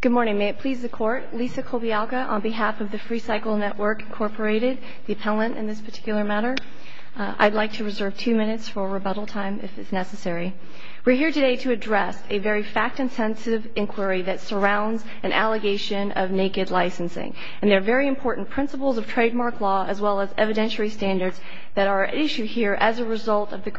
Good morning. May it please the Court, Lisa Kolbialka on behalf of the Freecycle Network Incorporated, the appellant in this particular matter. I'd like to reserve two minutes for rebuttal time if it's necessary. We're here today to address a very fact-intensive inquiry that surrounds an allegation of naked licensing. And there are very important principles of trademark law as well as evidentiary standards that are at issue here as a result of the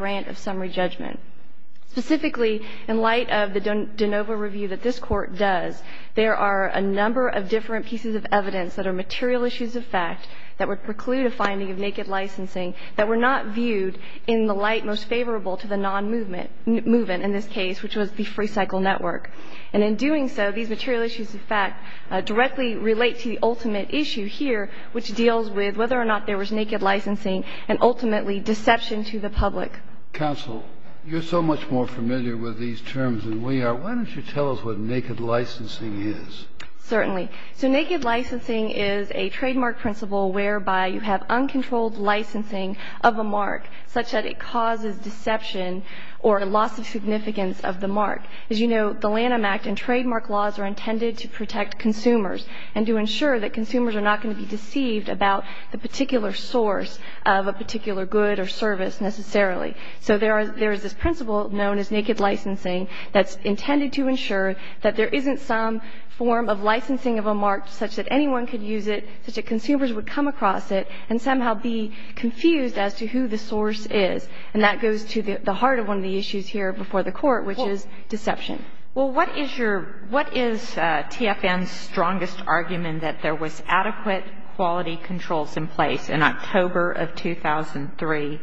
There are a number of different pieces of evidence that are material issues of fact that would preclude a finding of naked licensing that were not viewed in the light most favorable to the non-movement in this case, which was the Freecycle Network. And in doing so, these material issues of fact directly relate to the ultimate issue here, which deals with whether or not there was naked licensing and ultimately deception to the public. Counsel, you're so much more familiar with these terms than we are. Why don't you tell us what naked licensing is? Certainly. So naked licensing is a trademark principle whereby you have uncontrolled licensing of a mark such that it causes deception or loss of significance of the mark. As you know, the Lanham Act and trademark laws are intended to protect consumers and to ensure that consumers are not going to be deceived about the particular source of a particular good or service necessarily. So there is this principle known as naked licensing that's intended to ensure that there isn't some form of licensing of a mark such that anyone could use it, such that consumers would come across it and somehow be confused as to who the source is. And that goes to the heart of one of the issues here before the Court, which is deception. Well, what is your — what is TFN's strongest argument that there was adequate quality controls in place in October of 2003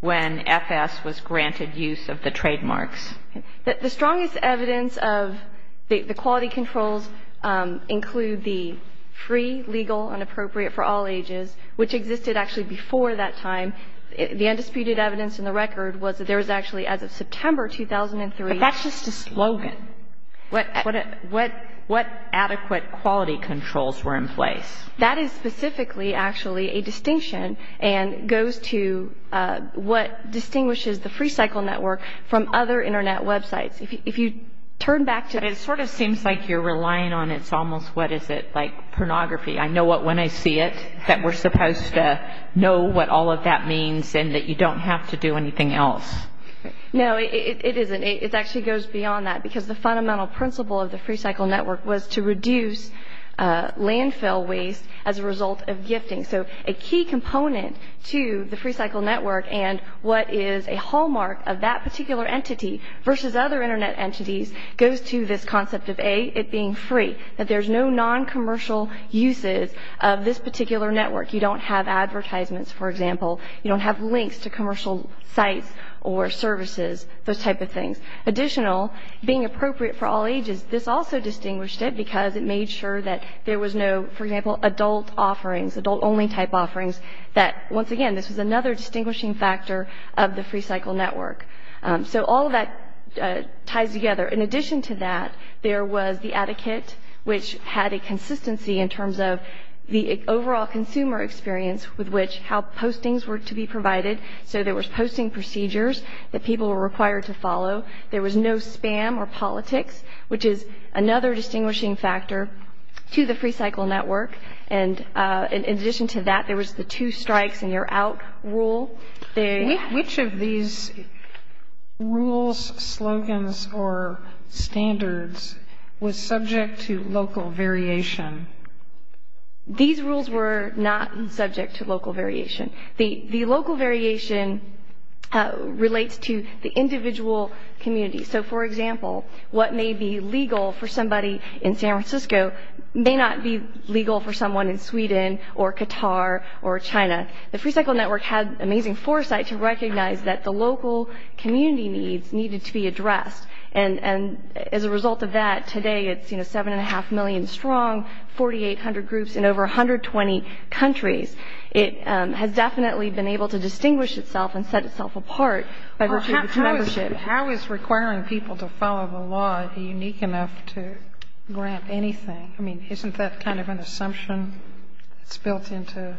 when FS was granted use of the trademarks? The strongest evidence of the quality controls include the free, legal, and appropriate for all ages, which existed actually before that time. The undisputed evidence in the record was that there was actually, as of September 2003 — But that's just a slogan. What adequate quality controls were in place? That is specifically, actually, a distinction and goes to what distinguishes the Free Cycle Network from other Internet websites. If you turn back to — It sort of seems like you're relying on it's almost, what is it, like pornography? I know what when I see it, that we're supposed to know what all of that means and that you don't have to do anything else. No, it isn't. It actually goes beyond that because the fundamental principle of the Free Cycle Network is that it is free and it is not used as a result of gifting. So a key component to the Free Cycle Network and what is a hallmark of that particular entity versus other Internet entities goes to this concept of, A, it being free, that there's no non-commercial uses of this particular network. You don't have advertisements, for example. You don't have links to commercial sites or services, those type of things. Additional, being appropriate for all ages, this also distinguished it because it made sure that there was no, for example, adult offerings, adult-only type offerings, that once again, this was another distinguishing factor of the Free Cycle Network. So all of that ties together. In addition to that, there was the etiquette, which had a consistency in terms of the overall consumer experience with which how postings were to be provided. So there was posting procedures that people were required to follow. There was no spam or politics, which is another distinguishing factor to the Free Cycle Network. And in addition to that, there was the two strikes and you're out rule. Which of these rules, slogans or standards was subject to local variation? These rules were not subject to local variation. The local variation relates to the individual community. So for example, what may be legal for somebody in San Francisco may not be legal for someone in Sweden or Qatar or China. The Free Cycle Network had amazing foresight to recognize that the local community needs needed to be addressed. And as a result of that, today it's 7.5 million strong, 4,800 groups in over 120 countries. It has definitely been able to distinguish itself and set itself apart by virtue of its membership. How is requiring people to follow the law unique enough to grant anything? I mean, isn't that kind of an assumption that's built into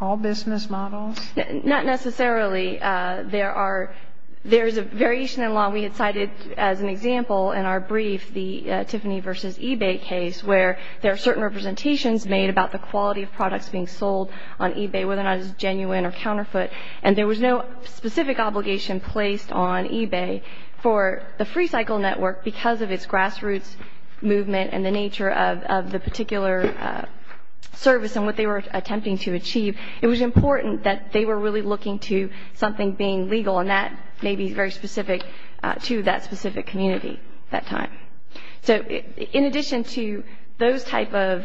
all business models? Not necessarily. There are — there's a variation in law. We had cited as an example in our brief the Tiffany v. eBay case where there are certain representations made about the quality of products being sold on eBay, whether or not it's genuine or on eBay. For the Free Cycle Network, because of its grassroots movement and the nature of the particular service and what they were attempting to achieve, it was important that they were really looking to something being legal, and that may be very specific to that specific community at that time. So in addition to those type of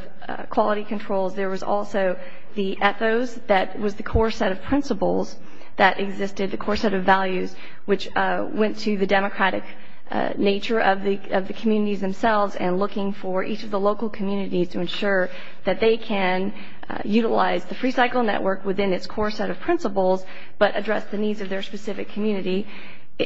quality controls, there was also the ethos that was the core set of principles that existed, the core set of values, which went to the democratic nature of the communities themselves and looking for each of the local communities to ensure that they can utilize the Free Cycle Network within its core set of principles, but address the needs of their specific community.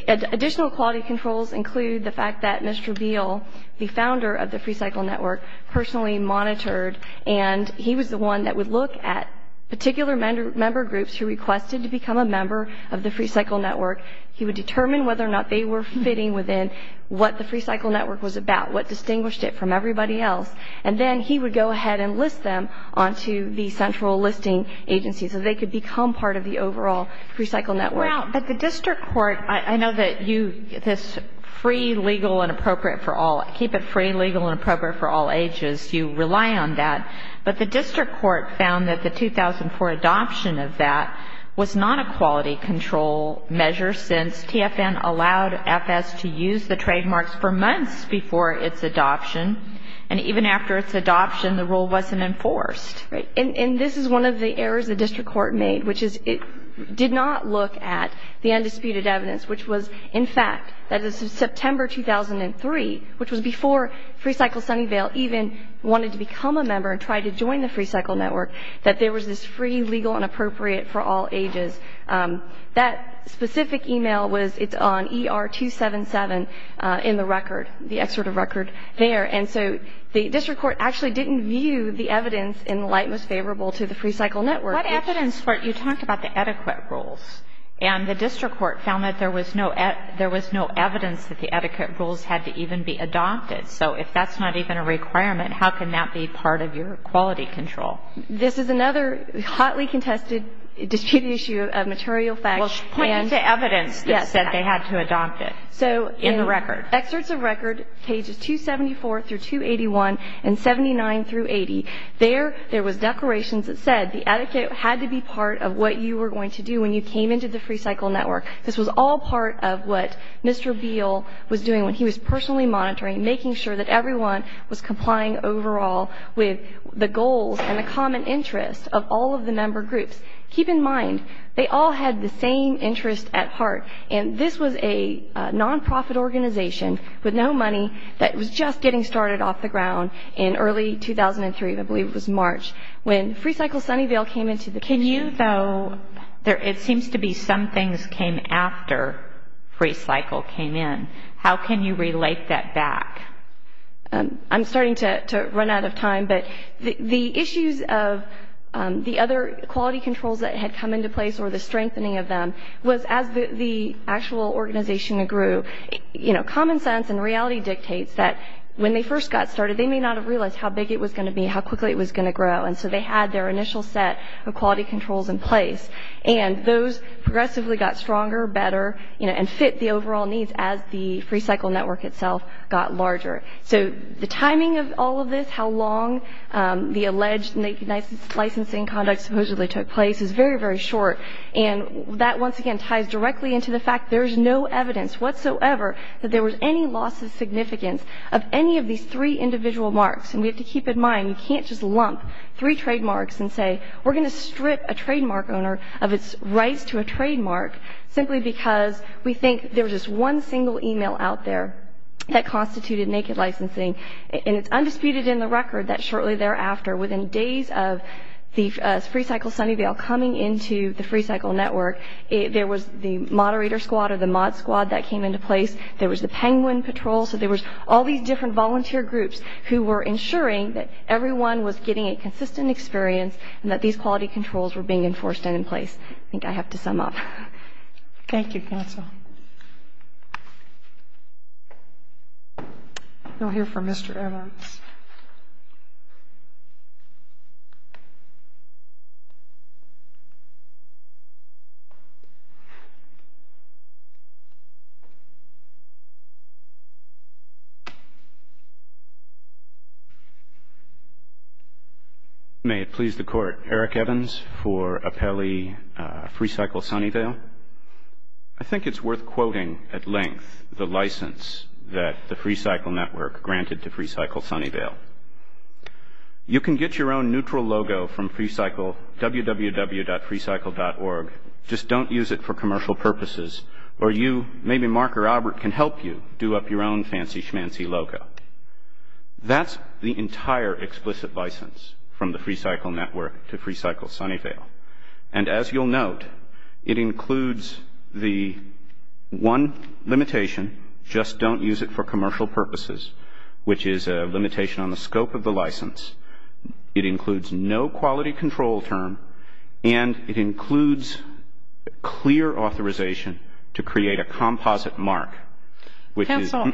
Additional quality controls include the fact that Mr. Beale, the founder of the Free Cycle Network, personally monitored, and he was the one that would look at particular member groups who requested to become a member of the Free Cycle Network. He would determine whether or not they were fitting within what the Free Cycle Network was about, what distinguished it from everybody else, and then he would go ahead and list them onto the central listing agency, so they could become part of the overall Free Cycle Network. Now, but the district court, I know that you, this free, legal, and appropriate for all ages, you rely on that, but the district court found that the 2004 adoption of that was not a quality control measure, since TFN allowed FS to use the trademarks for months before its adoption, and even after its adoption, the rule wasn't enforced. Right, and this is one of the errors the district court made, which is it did not look at the undisputed evidence, which was, in fact, that it was September 2003, which was before Free Cycle Sunnyvale even wanted to become a member and tried to join the Free Cycle Network, that there was this free, legal, and appropriate for all ages. That specific email was, it's on ER 277 in the record, the excerpt of record there, and so the district court actually didn't view the evidence in the light most favorable to the Free Cycle Network. What evidence for it? You talked about the adequate rules, and the district court found that there was no evidence that the adequate rules had to even be adopted, so if that's not even a requirement, how can that be part of your quality control? This is another hotly contested disputed issue of material facts. Well, she's pointing to evidence that said they had to adopt it in the record. So in the excerpts of record, pages 274 through 281 and 79 through 80, there was declarations that said the adequate had to be part of what you were going to do when you came into the Free Cycle Network. This was all part of what Mr. Beal was doing when he was personally monitoring, making sure that everyone was complying overall with the goals and the common interests of all of the member groups. Keep in mind, they all had the same interest at heart, and this was a non-profit organization with no money that was just getting started off the ground in early 2003, I believe it was March, when Free Cycle Sunnyvale came into the... Can you, though, it seems to be some things came after Free Cycle came in. How can you relate that back? I'm starting to run out of time, but the issues of the other quality controls that had come into place or the strengthening of them was as the actual organization grew. Common sense and reality dictates that when they first got started, they may not have realized how big it was going to be, how quickly it was going to grow, and so they had their initial set of quality controls in place, and those progressively got stronger, better, and fit the overall needs as the Free Cycle network itself got larger. So the timing of all of this, how long the alleged licensing conduct supposedly took place is very, very short, and that once again ties directly into the fact there is no evidence whatsoever that there was any loss of significance of any of these three individual marks, and we have to keep in mind, you can't just lump three trademarks and say, we're going to strip a There was just one single email out there that constituted naked licensing, and it's undisputed in the record that shortly thereafter, within days of the Free Cycle Sunnyvale coming into the Free Cycle network, there was the moderator squad or the mod squad that came into place, there was the penguin patrol, so there was all these different volunteer groups who were ensuring that everyone was getting a consistent experience and that these quality controls were being enforced and in place. I think I have to sum up. Thank you, counsel. We'll hear from Mr. Evans. May it please the Court. Eric Evans for Apelli Free Cycle Sunnyvale. I think it's worth quoting at length the license that the Free Cycle network granted to Free Cycle Sunnyvale. You can get your own neutral logo from www.freecycle.org, just don't use it for commercial purposes, or you, maybe Mark or Albert can help you do up your own fancy schmancy logo. That's the entire explicit license from the Free Cycle network to Free Cycle Sunnyvale, and as you'll note, it includes the one limitation, just don't use it for the scope of the license. It includes no quality control term, and it includes clear authorization to create a composite mark. Counsel,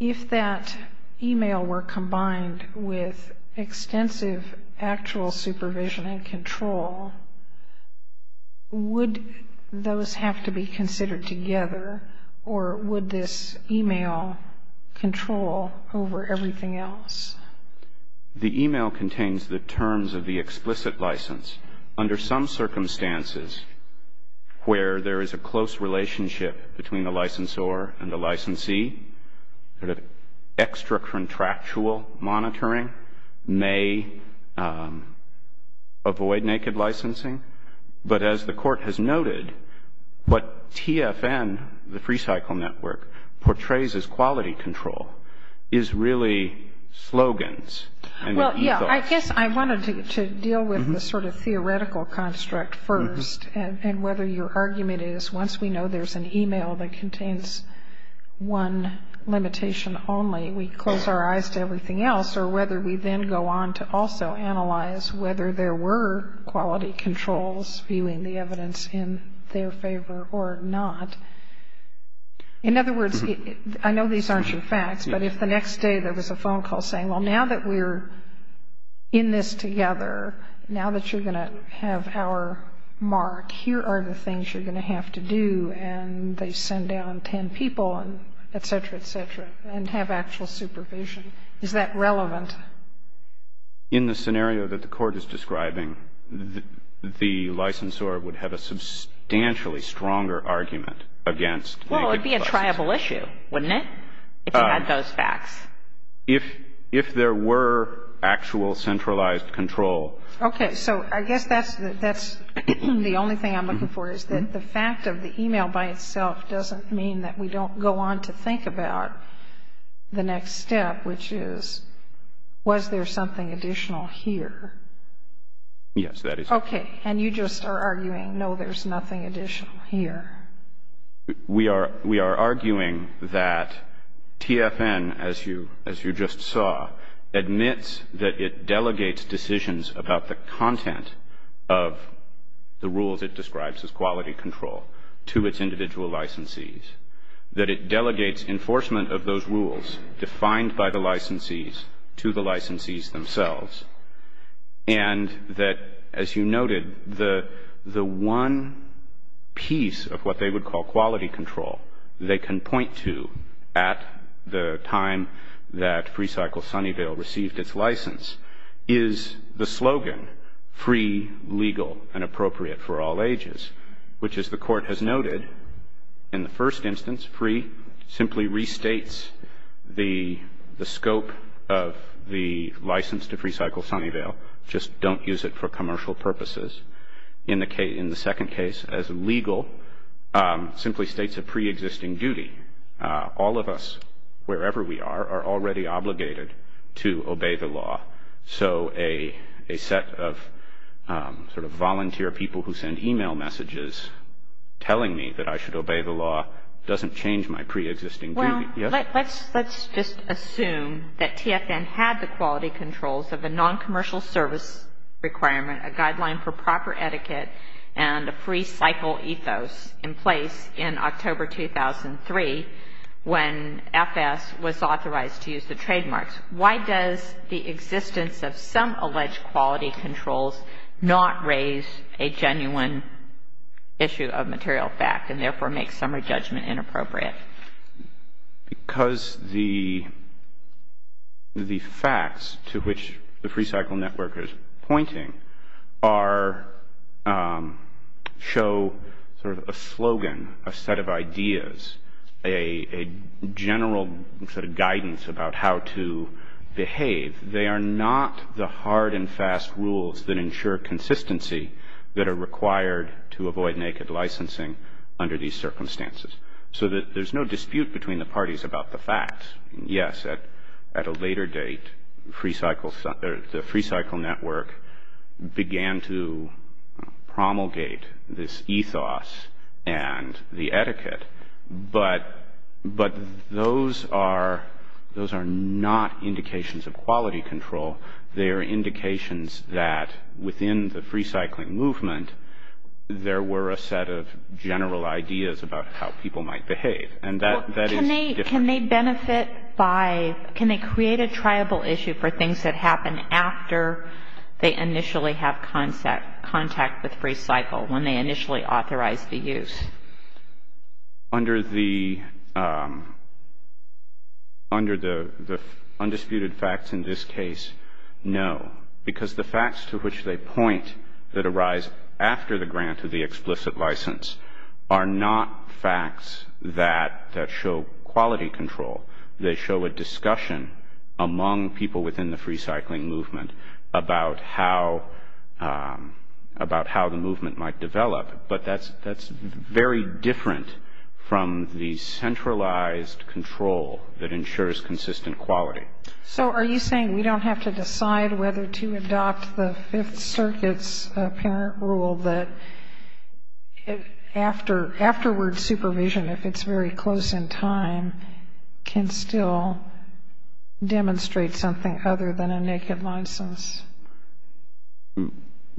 if that email were combined with extensive actual supervision and control, would those have to be considered together, or would this email control over everything else? The email contains the terms of the explicit license. Under some circumstances where there is a close relationship between the licensor and the licensee, extra-contractual monitoring may avoid naked licensing, but as the court has noted, what TFN, the Free Cycle network, portrays as quality control is really slogans and ethos. Well, yeah, I guess I wanted to deal with the sort of theoretical construct first, and whether your argument is once we know there's an email that contains one limitation only, we close our eyes to everything else, or whether we then go on to also analyze whether there were quality controls viewing the evidence in their favor or not. In other words, I know these aren't your facts, but if the next day there was a phone call saying, well, now that we're in this together, now that you're going to have our mark, here are the things you're going to have to do, and they send down ten people and et cetera, et cetera, and have actual supervision, is that relevant? In the scenario that the court is describing, the licensor would have a substantially stronger argument against naked licensing. Well, it would be a triable issue, wouldn't it, if it had those facts? If there were actual centralized control. Okay. So I guess that's the only thing I'm looking for, is that the fact of the email by itself doesn't mean that we don't go on to think about the next step, which is, was there something additional here? Yes, that is correct. Okay. And you just are arguing, no, there's nothing additional here. We are arguing that TFN, as you just saw, admits that it delegates decisions about the content of the rules it describes as quality control to its individual licensees, that it delegates enforcement of those rules defined by the licensees to the licensees themselves, and that, as you noted, the one piece of what they would call quality control they can point to at the time that FreeCycle Sunnyvale received its license is the slogan, free, legal, and simply restates the scope of the license to FreeCycle Sunnyvale, just don't use it for commercial purposes. In the second case, as legal, simply states a preexisting duty. All of us, wherever we are, are already obligated to obey the law. So a set of sort of volunteer people who send e-mail messages telling me that I should obey the law doesn't change my preexisting duty. Well, let's just assume that TFN had the quality controls of the noncommercial service requirement, a guideline for proper etiquette, and a FreeCycle ethos in place in October 2003, when FS was authorized to use the trademarks. Why does the existence of some alleged quality controls not raise a genuine issue of material fact and therefore make summary judgment inappropriate? Because the facts to which the FreeCycle network is pointing are, show sort of a slogan, a set of ideas, a general sort of guidance about how to behave. They are not the hard and fast rules that ensure consistency that are required to avoid naked licensing under these circumstances. So there's no dispute between the parties about the facts. Yes, at a later date, the FreeCycle network began to promulgate this ethos and the etiquette, but those are not indications of quality control. They are indications that within the FreeCycling movement, there were a set of general ideas about how people might behave. And that is different. Can they benefit by, can they create a triable issue for things that happen after they initially have contact with FreeCycle, when they initially authorize the use? Under the undisputed facts in this case, no. Because the facts to which they point that arise after the grant of the explicit license are not facts that show quality control. They show a discussion among people within the FreeCycling movement about how the movement might develop. But that's very different from the centralized control that ensures consistent quality. So are you saying we don't have to decide whether to adopt the Fifth Circuit's apparent rule that afterward supervision, if it's very close in time, can still demonstrate something other than a naked license?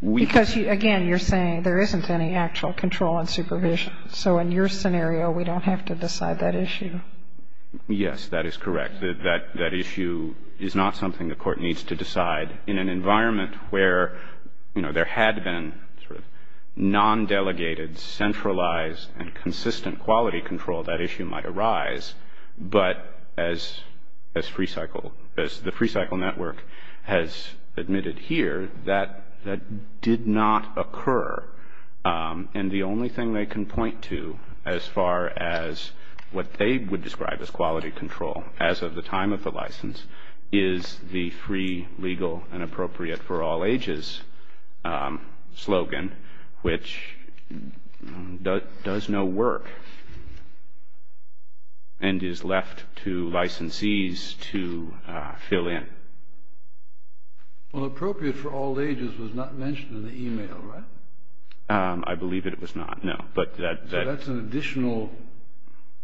Because, again, you're saying there isn't any actual control and supervision. So in your scenario, we don't have to decide that issue. Yes, that is correct. That issue is not something the Court needs to decide. In an environment where, you know, there had been sort of non-delegated, centralized, and consistent quality control, that issue might arise. But as FreeCycle, as the FreeCycle network has admitted here, that did not occur. And the only thing they can point to, as far as what they would describe as quality control, as of the time of the license, is the free, legal, and appropriate for all ages slogan, which does no work and is left to Well, appropriate for all ages was not mentioned in the email, right? I believe that it was not, no. So that's an additional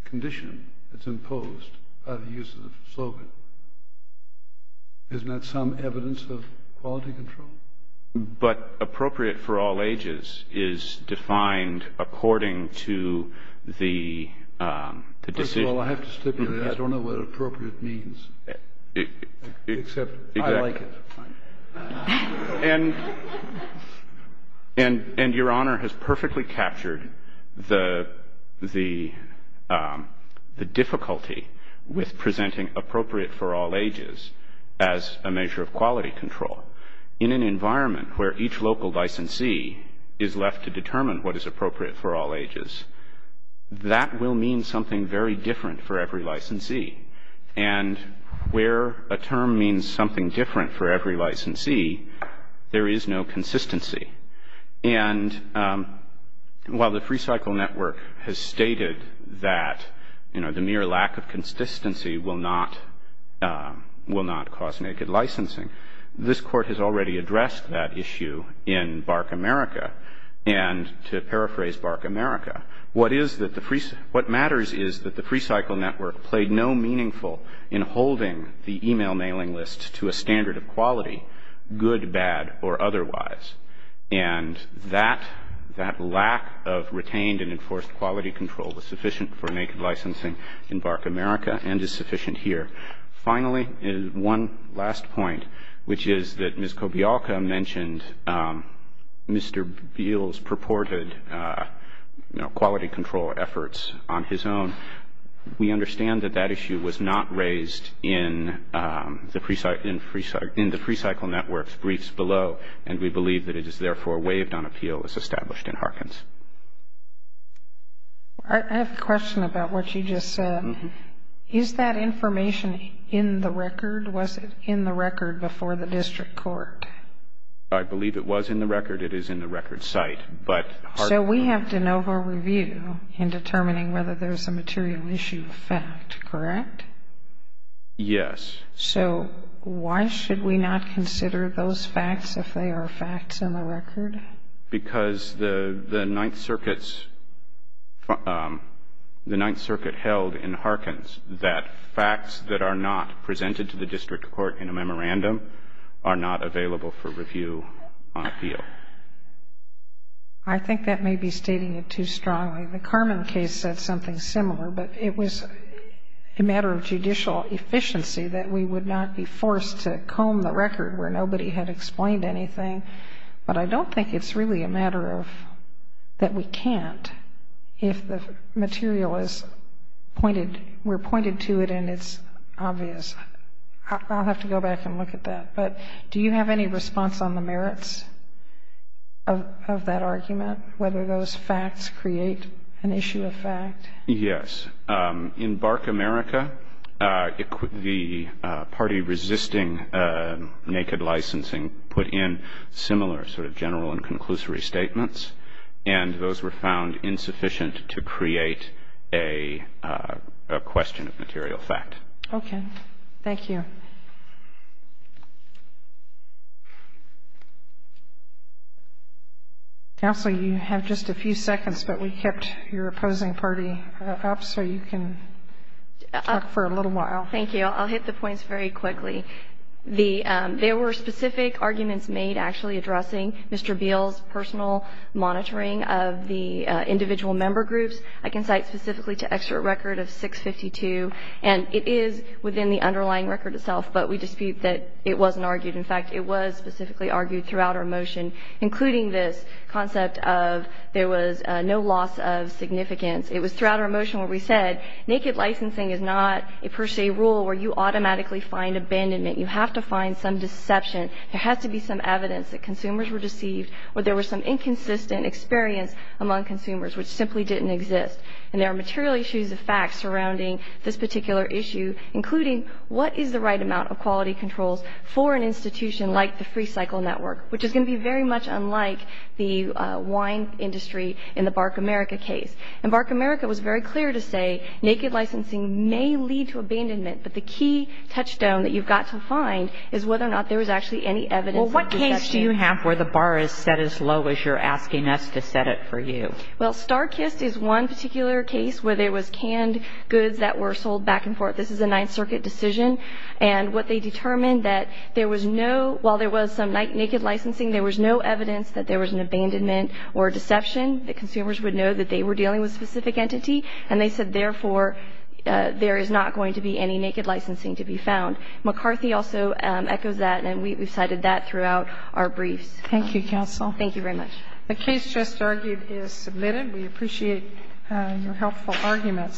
condition that's imposed by the use of the slogan. Isn't that some evidence of quality control? But appropriate for all ages is defined according to the decision... Except I like it. And Your Honor has perfectly captured the difficulty with presenting appropriate for all ages as a measure of quality control. In an environment where each local licensee is left to determine what is appropriate for all ages, that will mean something very different for every licensee. And where a term means something different for every licensee, there is no consistency. And while the FreeCycle network has stated that, you know, the mere lack of consistency will not cause naked licensing, this Court has meaningful in holding the email mailing list to a standard of quality, good, bad, or otherwise. And that lack of retained and enforced quality control was sufficient for naked licensing in BARC America and is sufficient here. Finally, one last point, which is that Ms. Kobialka mentioned Mr. Beale's purported, you know, quality control efforts on his own. We understand that that issue was not raised in the FreeCycle network's briefs below. And we believe that it is therefore waived on appeal as established in Harkins. I have a question about what you just said. Is that information in the record? Was it in the record before the district court? I believe it was in the record. It is in the record site. So we have de novo review in determining whether there is a material issue fact, correct? Yes. So why should we not consider those facts if they are facts in the record? Because the Ninth Circuit held in Harkins that facts that are not presented to the district court in a memorandum are not available for review on appeal. I think that may be stating it too strongly. The Carmen case said something similar. But it was a matter of judicial efficiency that we would not be forced to comb the record where nobody had explained anything. But I don't think it's really a matter of that we can't if the material is pointed, we're pointed to it and it's obvious. I'll have to go back and look at that. But do you have any response on the merits of that argument, whether those facts create an issue of fact? Yes. In Bark, America, the party resisting naked licensing put in similar sort of general and conclusory statements. And those were found insufficient to create a question of material fact. Okay. Thank you. Counsel, you have just a few seconds, but we kept your opposing party up so you can talk for a little while. Thank you. I'll hit the points very quickly. There were specific arguments made actually addressing Mr. Beal's personal monitoring of the individual member groups. I can cite specifically to extra record of 652. And it is within the underlying record itself, but we dispute that it wasn't argued. In fact, it was specifically argued throughout our motion, including this concept of there was no loss of significance. It was throughout our motion where we said naked licensing is not a per se rule where you automatically find abandonment. You have to find some deception. There has to be some evidence that consumers were deceived or there was some inconsistent experience among consumers which simply didn't exist. And there are material issues of fact surrounding this particular issue, including what is the right amount of quality controls for an institution like the Free Cycle Network, which is going to be very much unlike the wine industry in the Bark, America case. And Bark, America was very clear to say naked licensing may lead to abandonment, but the key touchstone that you've got to find is whether or not there was actually any evidence of deception. Well, what case do you have where the bar is set as low as you're asking us to set it for you? Well, Starkist is one particular case where there was canned goods that were sold back and forth. This is a Ninth Circuit decision. And what they determined that there was no ñ while there was some naked licensing, there was no evidence that there was an abandonment or deception that consumers would know that they were dealing with a specific entity. And they said, therefore, there is not going to be any naked licensing to be found. McCarthy also echoes that, and we've cited that throughout our briefs. Thank you, counsel. Thank you very much. The case just argued is submitted. We appreciate your helpful arguments.